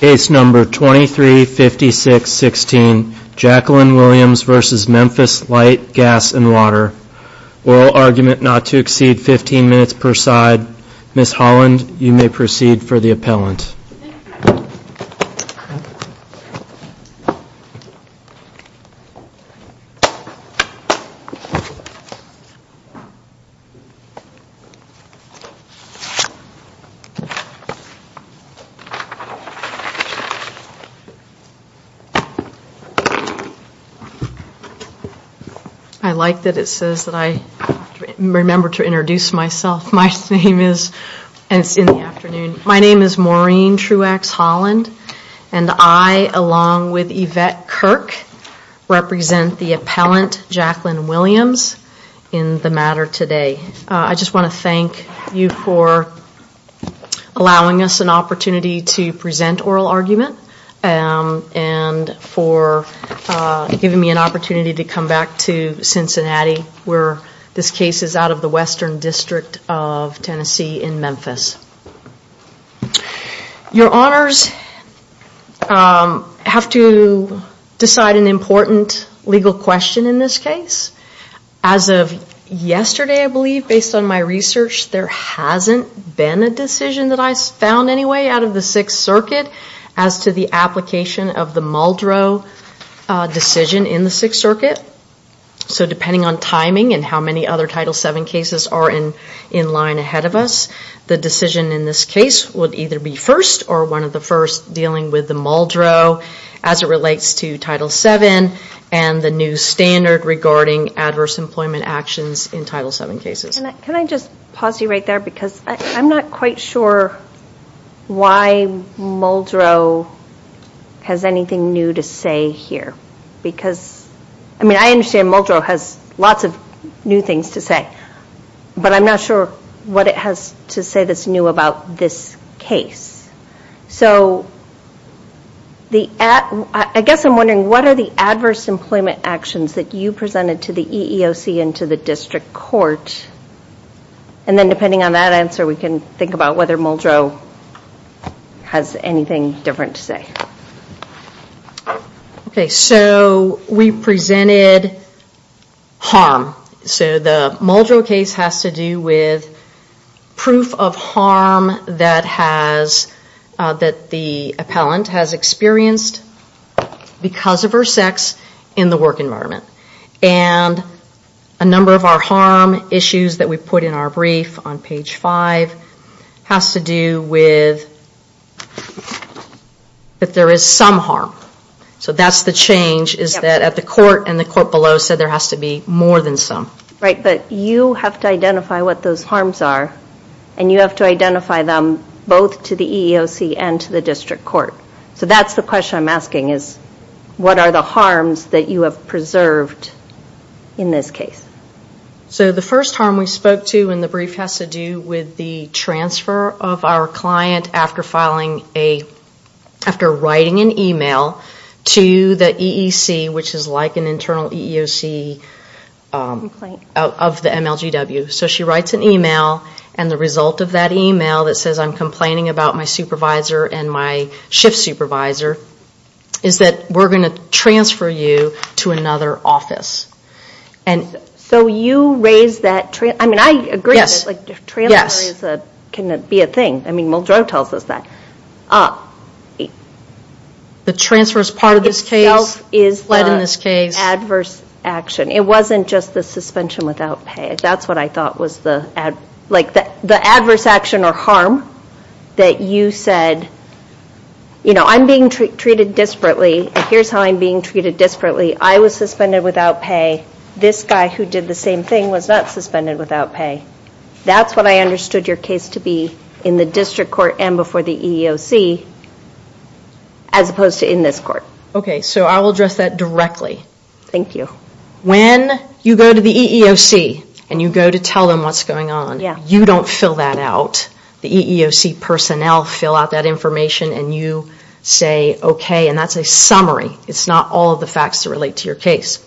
Case No. 2356-16, Jacqueline Williams v. Memphis Light, Gas, and Water Oral argument not to exceed 15 minutes per side Ms. Holland, you may proceed for the appellant I like that it says that I remember to introduce myself. My name is, and it's in the afternoon, my name is Maureen Truex Holland and I, along with Yvette Kirk, represent the appellant Jacqueline Williams in the matter today. I just want to thank you for allowing us an oral argument and for giving me an opportunity to come back to Cincinnati, where this case is out of the Western District of Tennessee in Memphis. Your Honors, I have to decide an important legal question in this case. As of yesterday I believe, based on my research, there hasn't been a decision that I found anyway out of the Sixth Circuit as to the application of the Muldrow decision in the Sixth Circuit. So depending on timing and how many other Title VII cases are in line ahead of us, the decision in this case would either be first or one of the first dealing with the Muldrow as it relates to Title VII and the new standard regarding adverse employment actions in Title VII cases. Can I just pause you right there because I'm not quite sure why Muldrow has anything new to say here. I mean, I understand Muldrow has lots of new things to say, but I'm not sure what it has to say that's new about this case. I guess I'm wondering what are the adverse And then depending on that answer we can think about whether Muldrow has anything different to say. So we presented harm. So the Muldrow case has to do with proof of harm that the appellant has experienced because of her sex in the work environment. And a number of our harm issues that we put in our brief on page five has to do with that there is some harm. So that's the change is that at the court and the court below said there has to be more than some. Right, but you have to identify what those harms are and you have to identify them both to the EEOC and to the district court. So that's the question I'm asking is what are the harms that you have preserved in this case? So the first harm we spoke to in the brief has to do with the transfer of our client after writing an email to the EEC which is like an internal EEOC of the MLGW. So she writes an email and the result of that email that says I'm complaining about my supervisor and my shift supervisor is that we're going to transfer you to another office. So you raise that, I mean I agree that transfer can be a thing. I mean Muldrow tells us that. The transfer is part of this case, it's the adverse action. It wasn't just the suspension without pay. That's what I thought was the adverse action or harm that you said, you know I'm being treated disparately and here's how I'm being treated disparately. I was suspended without pay. This guy who did the same thing was not suspended without pay. That's what I understood your case to be in the district court and before the EEOC as opposed to in this court. So I will address that directly. When you go to the EEOC and you go to tell them what's going on, you don't fill that out. The EEOC personnel fill out that information and you say okay and that's a summary. It's not all of the facts that relate to your case.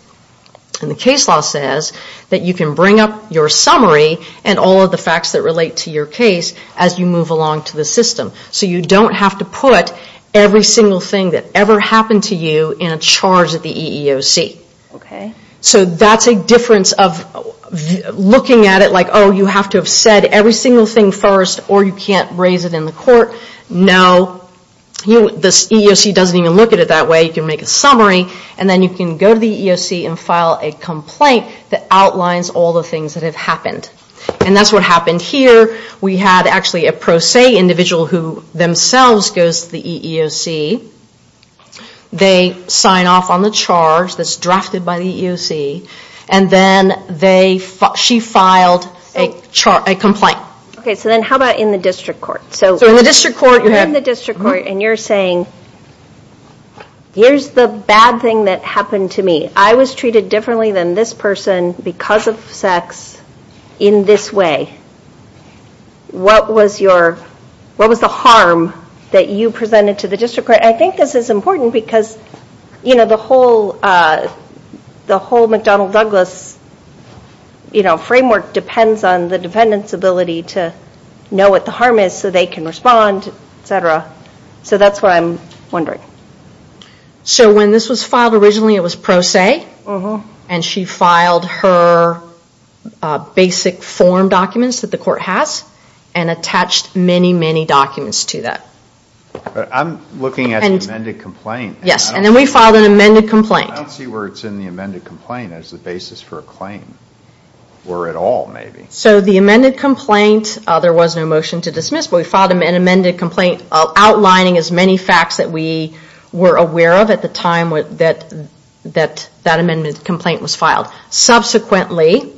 And the case law says that you can bring up your summary and all of the facts that relate to your case as you move along to the system. So you don't have to put every single thing that ever happened to you in a charge at the EEOC. So that's a difference of looking at it like oh you have to have said every single thing first or you can't raise it in the court. No. The EEOC doesn't even look at it that way. You can make a summary and then you can go to the EEOC and file a complaint that outlines all the things that have happened. And that's what happened here. We had actually a pro se individual who themselves goes to the EEOC. They sign off on the charge that's drafted by the EEOC and then she filed a complaint. Okay so then how about in the district court? So in the district court you're saying here's the bad thing that happened to me. I was treated differently than this person because of sex in this way. What was the harm that you presented to the district court? I think this is important because the whole McDonnell Douglas framework depends on the defendant's ability to know what the harm is so they can respond, etc. So that's what I'm wondering. Okay. So when this was filed originally it was pro se and she filed her basic form documents that the court has and attached many, many documents to that. I'm looking at the amended complaint. Yes and then we filed an amended complaint. I don't see where it's in the amended complaint as the basis for a claim or at all maybe. So the amended complaint, there was no motion to dismiss but we filed an amended complaint outlining as many facts that we were aware of at the time that that amended complaint was filed. Subsequently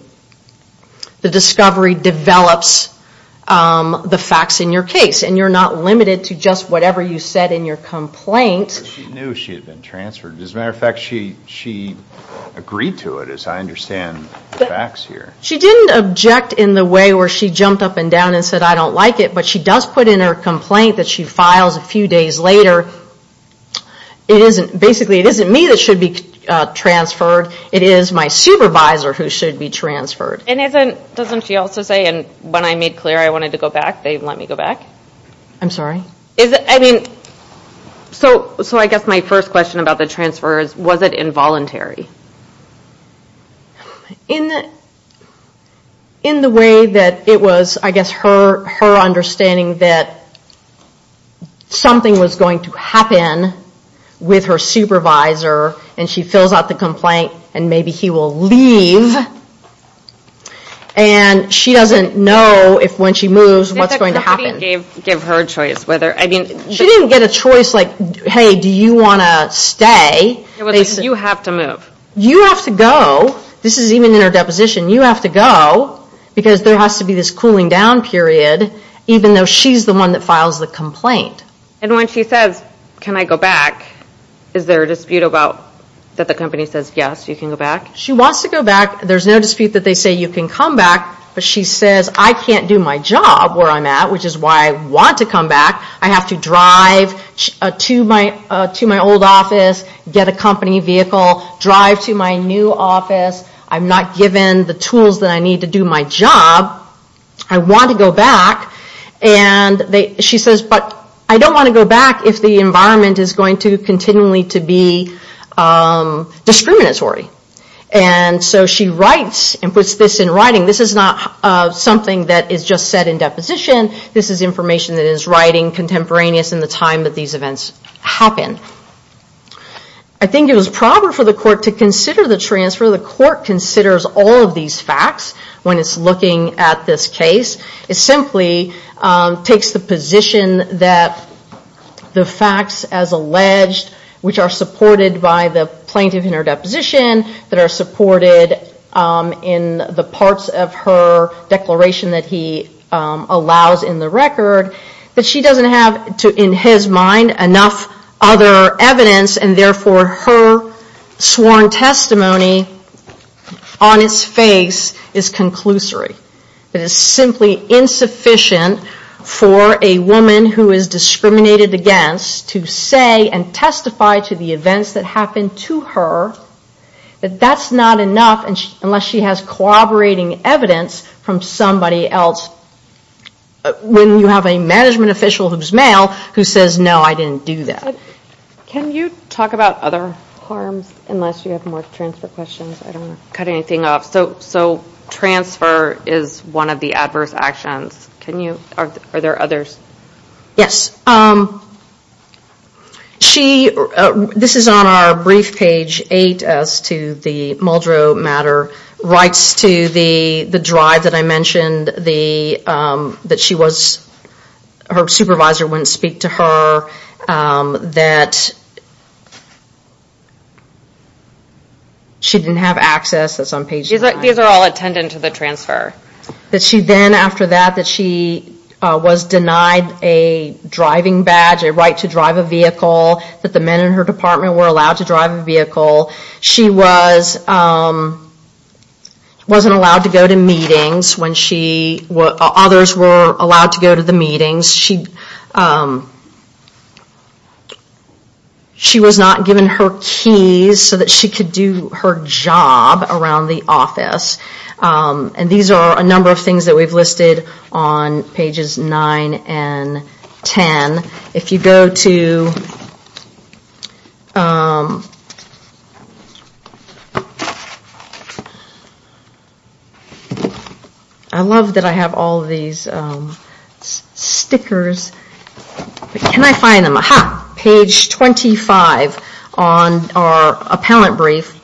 the discovery develops the facts in your case and you're not limited to just whatever you said in your complaint. She knew she had been transferred. As a matter of fact she agreed to it as I understand the facts here. She didn't object in the way where she jumped up and down and said I don't like it but she does put in her complaint that she files a few days later. Basically it isn't me that should be transferred. It is my supervisor who should be transferred. And isn't, doesn't she also say when I made clear I wanted to go back they let me go back? I'm sorry? So I guess my first question about the transfer is was it involuntary? In, in the way that it was I guess her understanding that something was going to happen with her supervisor and she fills out the complaint and maybe he will leave and she doesn't know if when she moves what's going to happen. Did the committee give her a choice whether, I mean. She didn't get a choice like hey do you want to stay. You have to move. You have to go. This is even in her deposition. You have to go because there has to be this cooling down period even though she's the one that files the complaint. And when she says can I go back is there a dispute about that the company says yes you can go back? She wants to go back. There's no dispute that they say you can come back but she says I can't do my job where I'm at which is why I want to come back. I have to drive to my, to my old office, get a company vehicle, drive to my new office. I'm not given the tools that I need to do my job. I want to go back and she says but I don't want to go back if the environment is going to continually to be discriminatory. And so she writes and puts this in writing. This is not something that is just said in deposition. This is information that is writing contemporaneous in the time that these events happen. I think it was proper for the court to consider the transfer. The court considers all of these facts when it's looking at this case. It simply takes the position that the facts as alleged which are supported by the plaintiff in her deposition that are supported in the parts of her declaration that he allowed to in the record that she doesn't have in his mind enough other evidence and therefore her sworn testimony on its face is conclusory. It is simply insufficient for a woman who is discriminated against to say and testify to the events that happened to her that that's not enough unless she has corroborating evidence from somebody else. When you have a management official who is male who says no I didn't do that. Can you talk about other harms unless you have more transfer questions? I don't want to cut anything off. So transfer is one of the adverse actions, are there others? Yes, she, this is on our brief page 8 as to the Muldrow matter, writes to the drive that I mentioned that she was, her supervisor wouldn't speak to her, that she didn't have access that's on page 9. These are all attendant to the transfer. That she then after that that she was denied a driving badge, a right to drive a vehicle, that the men in her department were allowed to drive a vehicle. She was, wasn't allowed to go to meetings when she, others were allowed to go to the meetings. She was not given her keys so that she could do her job around the office. And these are a number of things that we've listed on pages 9 and 10. If you go to, I love that I have all these stickers, can I find them? Page 25 on our appellant brief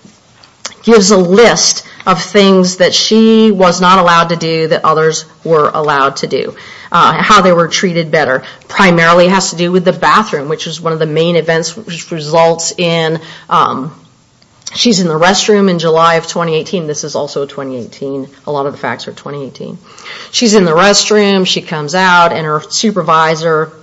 gives a list of things that she was not allowed to do that others were allowed to do. How they were treated better, primarily has to do with the bathroom which is one of the main events which results in, she's in the restroom in July of 2018, this is also 2018, a lot of the facts are 2018. She's in the restroom, she comes out, and her supervisor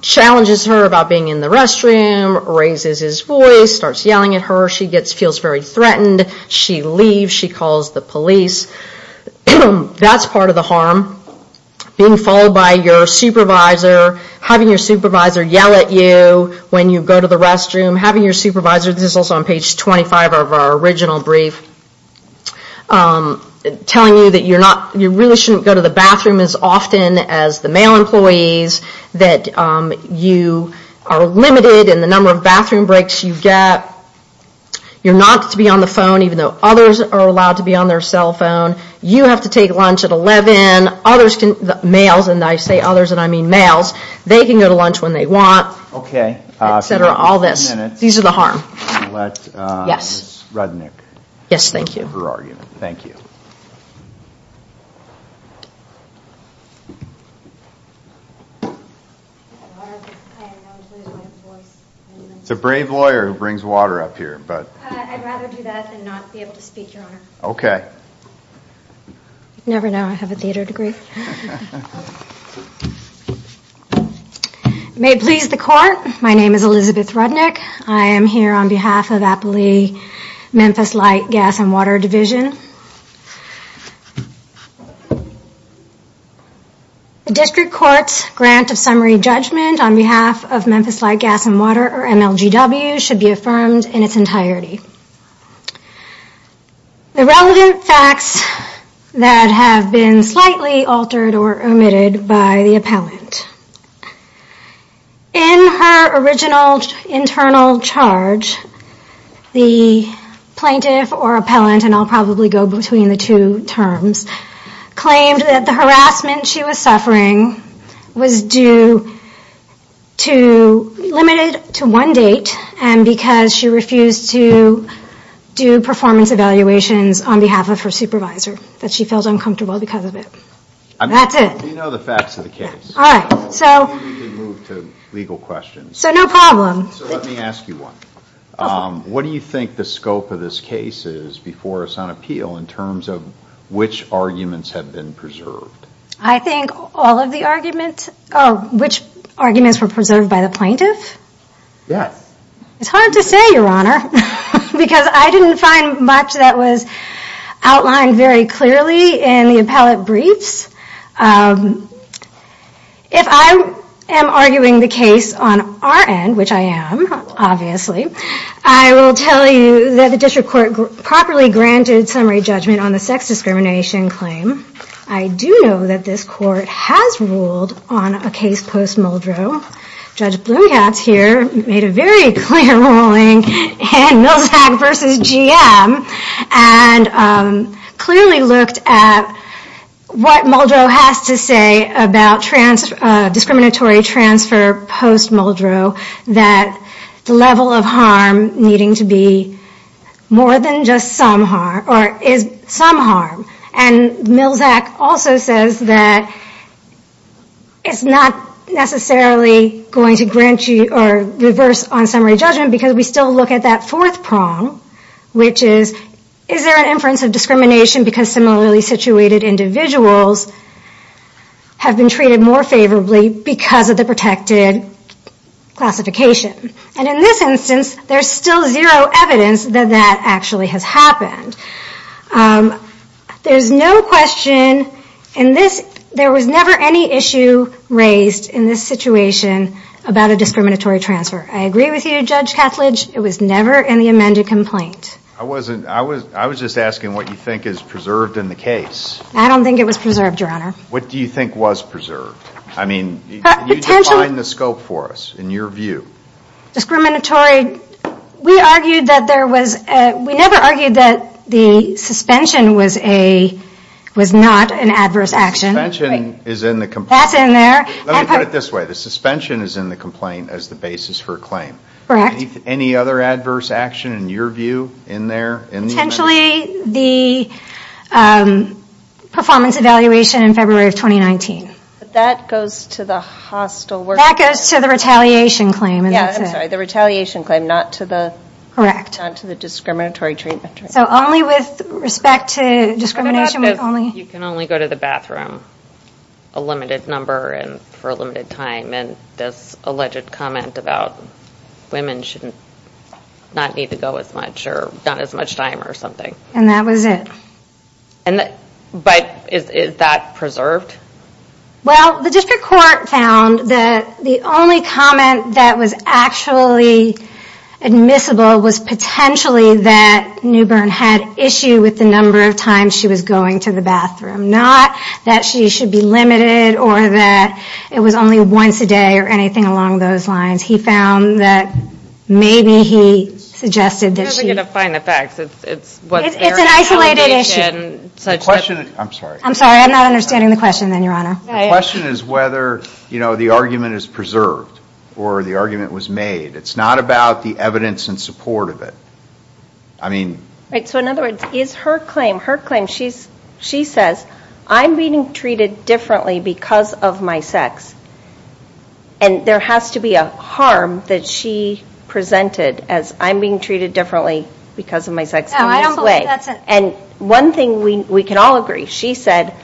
challenges her about being in the restroom, raises his voice, starts yelling at her, she gets, feels very threatened, she leaves, she calls the police. That's part of the harm, being followed by your supervisor, having your supervisor yell at you when you go to the restroom, having your supervisor, this is also on page 25 of our original brief, telling you that you really shouldn't go to the bathroom as often as the male employees, that you are limited in the number of bathroom breaks you get, you're not to be on the phone even though others are allowed to be on their cell phone, you have to take lunch at 11, males, and I say others and I mean males, they can go to the bathroom when they want, etc., all this, these are the harm. Yes, thank you. It's a brave lawyer who brings water up here. I'd rather do that than not be able to speak, Your Honor. Okay. You never know, I have a theater degree. May it please the Court, my name is Elizabeth Rudnick, I am here on behalf of Appley Memphis Light, Gas, and Water Division. The District Court's grant of summary judgment on behalf of Memphis Light, Gas, and Water or MLGW should be affirmed in its entirety. The relevant facts that have been slightly altered or omitted by the appellant. In her original internal charge, the plaintiff or appellant, and I'll probably go between the two terms, claimed that the harassment she was suffering was due to, limited to one date, and because she refused to do performance evaluations on behalf of her supervisor, that she felt uncomfortable because of it. That's it. I mean, we know the facts of the case. All right, so. I don't think we can move to legal questions. So no problem. So let me ask you one. Go for it. What do you think the scope of this case is before us on appeal in terms of which arguments have been preserved? I think all of the arguments, oh, which arguments were preserved by the plaintiff? Yes. It's hard to say, Your Honor, because I didn't find much that was outlined very clearly in the appellate briefs. If I am arguing the case on our end, which I am, obviously, I will tell you that the district court properly granted summary judgment on the sex discrimination claim. I do know that this court has ruled on a case post-Muldrow. Judge Bloomcats here made a very clear ruling in Milczak v. GM and clearly looked at what Muldrow has to say about discriminatory transfer post-Muldrow, that the level of harm needing to be more than just some harm, or is some harm. And Milczak also says that it's not necessarily going to grant you or reverse on summary judgment because we still look at that fourth prong, which is, is there an inference of discrimination because similarly situated individuals have been treated more favorably because of the protected classification? And in this instance, there's still zero evidence that that actually has happened. There was never any issue raised in this situation about a discriminatory transfer. I agree with you, Judge Kattledge, it was never in the amended complaint. I was just asking what you think is preserved in the case. I don't think it was preserved, Your Honor. What do you think was preserved? I mean, can you define the scope for us, in your view? Discriminatory, we argued that there was, we never argued that the suspension was a, was not an adverse action. Suspension is in the complaint. That's in there. Let me put it this way. The suspension is in the complaint as the basis for a claim. Correct. Any other adverse action in your view, in there, in the amendment? Actually, the performance evaluation in February of 2019. That goes to the hostile worker. That goes to the retaliation claim. Yeah, I'm sorry. The retaliation claim, not to the, not to the discriminatory treatment. So only with respect to discrimination, we can only. You can only go to the bathroom a limited number and for a limited time. And this alleged comment about women should not need to go as much or not as much time or something. And that was it. And, but is that preserved? Well, the district court found that the only comment that was actually admissible was potentially that Newbern had issue with the number of times she was going to the bathroom. Not that she should be limited or that it was only once a day or anything along those lines. He found that maybe he suggested that she. I'm not going to find the facts. It's what's there. It's an isolated issue. Such that. I'm sorry. I'm sorry. I'm not understanding the question then, Your Honor. The question is whether, you know, the argument is preserved or the argument was made. It's not about the evidence in support of it. I mean. Right. So in other words, is her claim, her claim, she's, she says, I'm being treated differently because of my sex and there has to be a harm that she presented as I'm being treated differently because of my sex in this way. And one thing we can all agree. She said,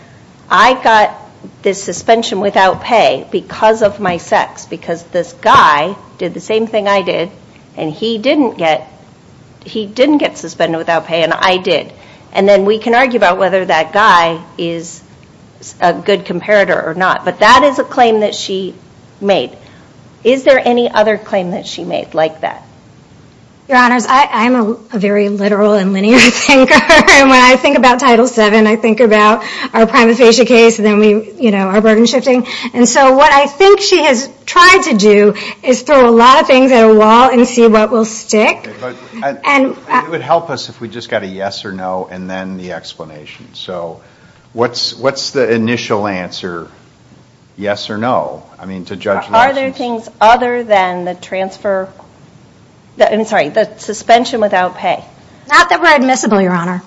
I got this suspension without pay because of my sex. Because this guy did the same thing I did and he didn't get, he didn't get suspended without pay and I did. And then we can argue about whether that guy is a good comparator or not. But that is a claim that she made. Is there any other claim that she made like that? Your Honors, I'm a very literal and linear thinker and when I think about Title VII, I think about our prima facie case and then we, you know, our burden shifting. And so what I think she has tried to do is throw a lot of things at a wall and see what will stick. But it would help us if we just got a yes or no and then the explanation. So what's, what's the initial answer? Yes or no? Are there things other than the transfer, I'm sorry, the suspension without pay? Not that we're admissible, Your Honor.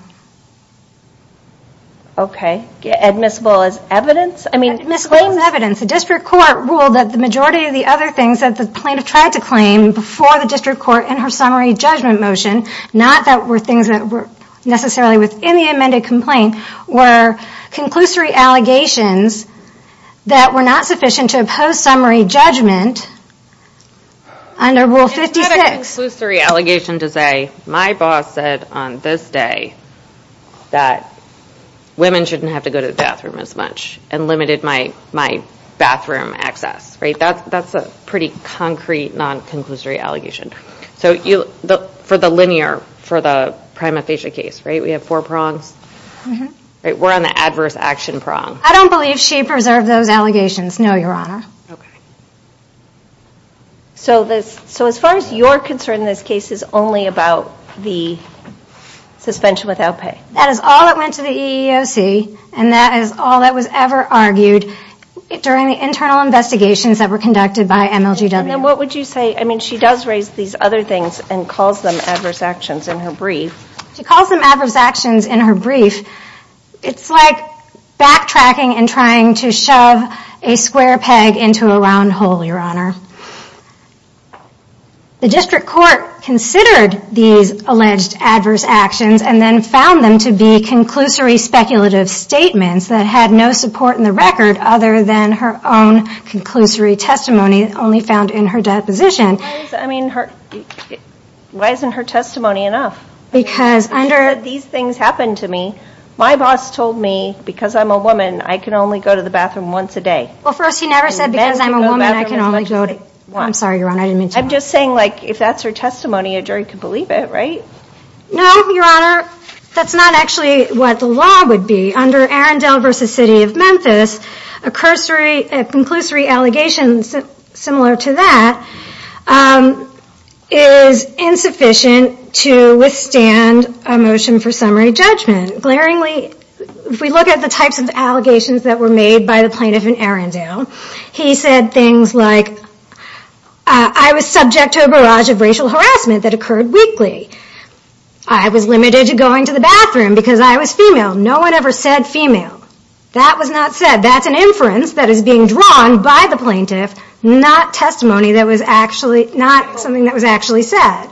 Okay. Admissible as evidence? I mean. Misclaim evidence. The District Court ruled that the majority of the other things that the plaintiff tried to claim before the District Court in her summary judgment motion, not that were things that were necessarily within the amended complaint, were conclusory allegations that were not sufficient to oppose summary judgment under Rule 56. It's not a conclusory allegation to say, my boss said on this day that women shouldn't have to go to the bathroom as much and limited my, my bathroom access, right? That's, that's a pretty concrete non-conclusory allegation. So you, for the linear, for the prima facie case, right, we have four prongs, right? We're on the adverse action prong. I don't believe she preserved those allegations, no, Your Honor. Okay. So this, so as far as you're concerned, this case is only about the suspension without pay? That is all that went to the EEOC and that is all that was ever argued during the internal investigations that were conducted by MLGW. And then what would you say, I mean, she does raise these other things and calls them adverse actions in her brief. She calls them adverse actions in her brief. It's like backtracking and trying to shove a square peg into a round hole, Your Honor. The district court considered these alleged adverse actions and then found them to be conclusory speculative statements that had no support in the record other than her own conclusory testimony only found in her deposition. I mean, why isn't her testimony enough? Because under these things happened to me, my boss told me, because I'm a woman, I can only go to the bathroom once a day. Well, first, he never said, because I'm a woman, I can only go to, I'm sorry, Your Honor, I didn't mean to. I'm just saying, like, if that's her testimony, a jury could believe it, right? No, Your Honor, that's not actually what the law would be. Under Arendelle v. City of Memphis, a conclusory allegation similar to that is insufficient to withstand a motion for summary judgment. Glaringly, if we look at the types of allegations that were made by the plaintiff in Arendelle, he said things like, I was subject to a barrage of racial harassment that occurred weekly. I was limited to going to the bathroom because I was female. No one ever said female. That was not said. That's an inference that is being drawn by the plaintiff, not testimony that was actually, not something that was actually said.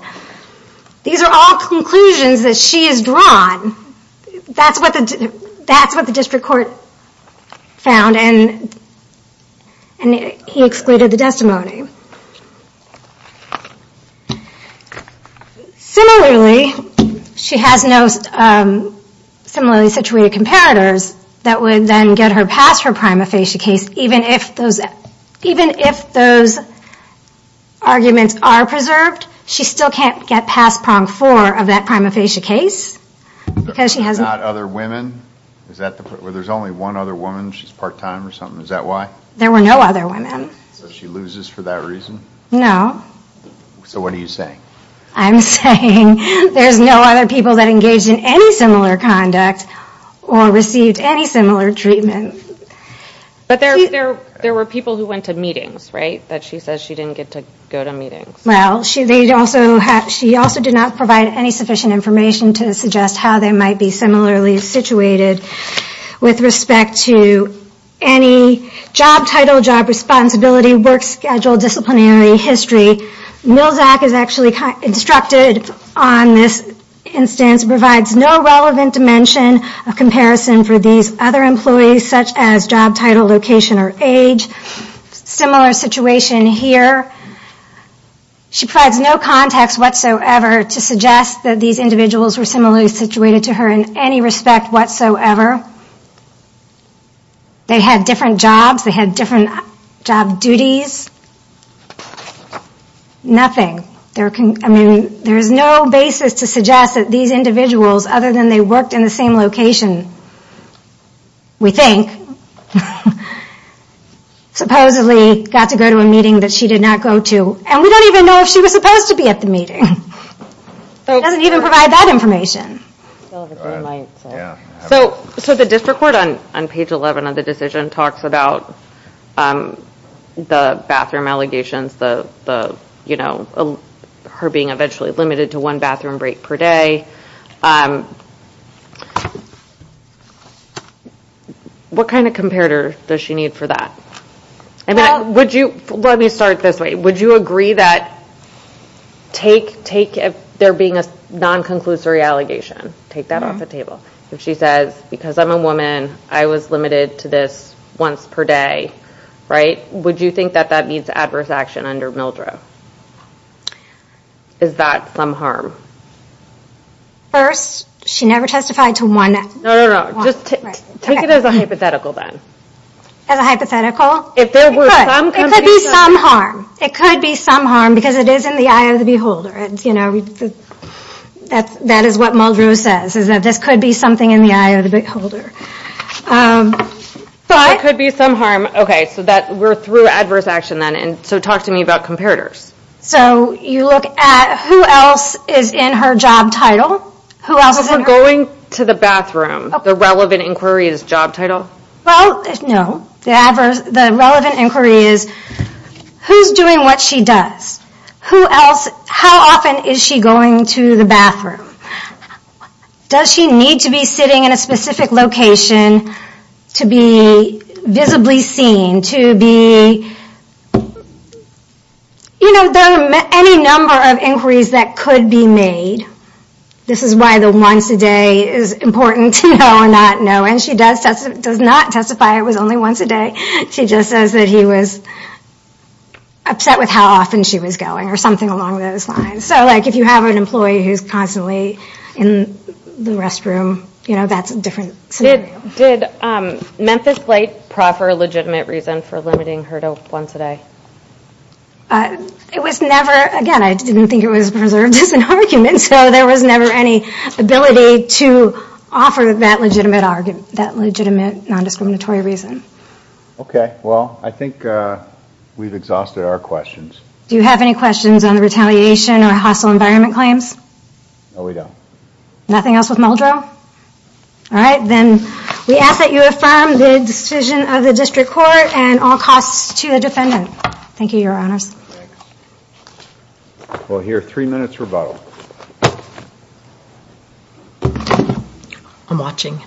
These are all conclusions that she has drawn. That's what the district court found, and he excluded the testimony. Similarly, she has no similarly situated comparators that would then get her past her prima facie case, even if those arguments are preserved, she still can't get past prong four of that prima facie case because she has not... Not other women? Is that the... Well, there's only one other woman, she's part-time or something, is that why? There were no other women. So she loses for that reason? So what are you saying? I'm saying there's no other people that engaged in any similar conduct or received any similar treatment. But there were people who went to meetings, right, that she says she didn't get to go to meetings. Well, she also did not provide any sufficient information to suggest how they might be similarly situated with respect to any job title, job responsibility, work schedule, disciplinary history. Milczak is actually instructed on this instance, provides no relevant dimension of comparison for these other employees such as job title, location, or age. Similar situation here. She provides no context whatsoever to suggest that these individuals were similarly situated to her in any respect whatsoever. They had different jobs, they had different job duties. Nothing. There can... I mean, there's no basis to suggest that these individuals, other than they worked in the same location, we think, supposedly got to go to a meeting that she did not go to. And we don't even know if she was supposed to be at the meeting. It doesn't even provide that information. So, the district court on page 11 of the decision talks about the bathroom allegations, the, you know, her being eventually limited to one bathroom break per day. What kind of comparator does she need for that? Would you... Let me start this way. Would you agree that, take if there being a non-conclusory allegation, take that off the table. If she says, because I'm a woman, I was limited to this once per day, right? Would you think that that means adverse action under Mildred? Is that some harm? First, she never testified to one... No, no, no. Just take it as a hypothetical then. As a hypothetical? It could. It could be some harm. It could be some harm because it is in the eye of the beholder. That is what Mildred says, is that this could be something in the eye of the beholder. But... It could be some harm, okay, so that we're through adverse action then, and so talk to me about comparators. So you look at who else is in her job title? Who else is in her... If we're going to the bathroom, the relevant inquiry is job title? Well, no. The relevant inquiry is, who's doing what she does? Who else... How often is she going to the bathroom? Does she need to be sitting in a specific location to be visibly seen, to be... You know, there are any number of inquiries that could be made. This is why the once a day is important to know or not know, and she does not testify it was only once a day. She just says that he was upset with how often she was going or something along those lines. So if you have an employee who's constantly in the restroom, that's a different scenario. Did Memphis plate proffer a legitimate reason for limiting her to once a day? It was never... Again, I didn't think it was preserved as an argument, so there was never any ability to offer that legitimate argument, that legitimate non-discriminatory reason. Okay. Well, I think we've exhausted our questions. Do you have any questions on the retaliation or hostile environment claims? No, we don't. Nothing else with Muldrow? All right. Then we ask that you affirm the decision of the District Court and all costs to the defendant. Thank you, Your Honors. Thanks. We'll hear three minutes rebuttal. I'm watching.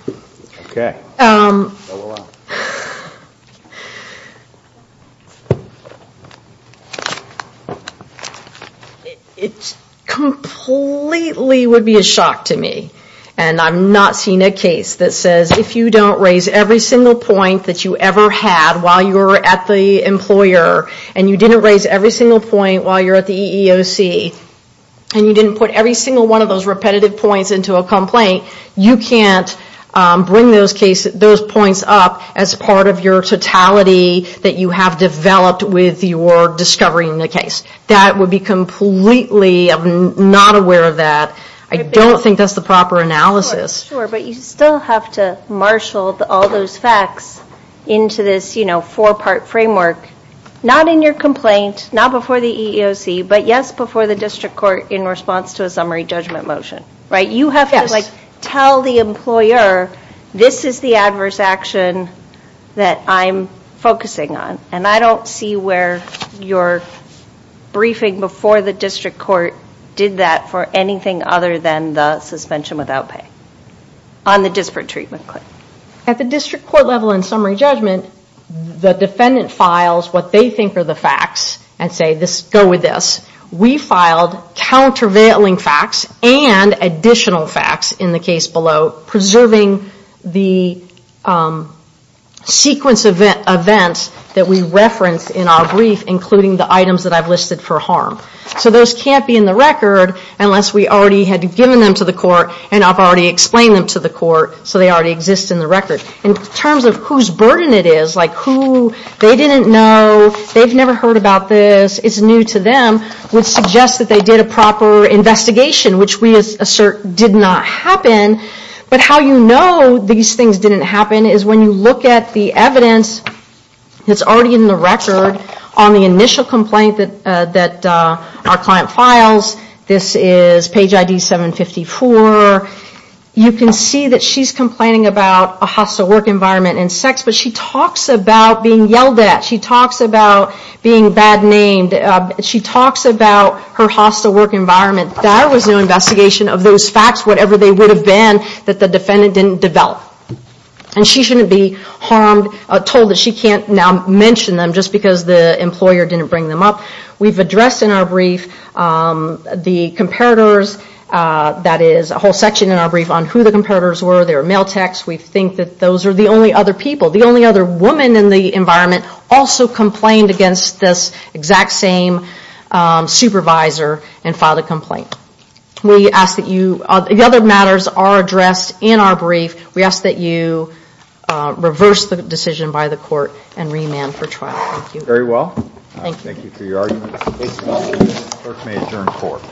It completely would be a shock to me, and I've not seen a case that says if you don't raise every single point that you ever had while you were at the employer, and you didn't raise every single point while you're at the EEOC, and you didn't put every single one of those repetitive points into a complaint, you can't bring those points up as part of your totality that you have developed with your discovery in the case. That would be completely not aware of that. I don't think that's the proper analysis. Sure, but you still have to marshal all those facts into this four-part framework, not in your complaint, not before the EEOC, but yes, before the District Court in response to a summary judgment motion. You have to tell the employer, this is the adverse action that I'm focusing on. I don't see where your briefing before the District Court did that for anything other than the suspension without pay on the disparate treatment claim. At the District Court level in summary judgment, the defendant files what they think are the facts, and say, go with this. We filed countervailing facts and additional facts in the case below, preserving the sequence of events that we referenced in our brief, including the items that I've listed for harm. So those can't be in the record unless we already had given them to the court, and I've already explained them to the court, so they already exist in the record. In terms of whose burden it is, like who they didn't know, they've never heard about this, it's new to them, would suggest that they did a proper investigation, which we assert did not happen. But how you know these things didn't happen is when you look at the evidence that's already in the record on the initial complaint that our client files, this is page ID 754. You can see that she's complaining about a hostile work environment and sex, but she talks about being yelled at, she talks about being bad named, she talks about her hostile work environment. There was no investigation of those facts, whatever they would have been, that the defendant didn't develop. And she shouldn't be told that she can't now mention them just because the employer didn't bring them up. We've addressed in our brief the comparators, that is a whole section in our brief on who the comparators were, their mail text, we think that those are the only other people, the only other woman in the environment also complained against this exact same supervisor and filed a complaint. The other matters are addressed in our brief, we ask that you reverse the decision by the court and remand for trial. Thank you. Thank you very well. Thank you. Thank you for your argument. Thank you. The clerk may adjourn the court.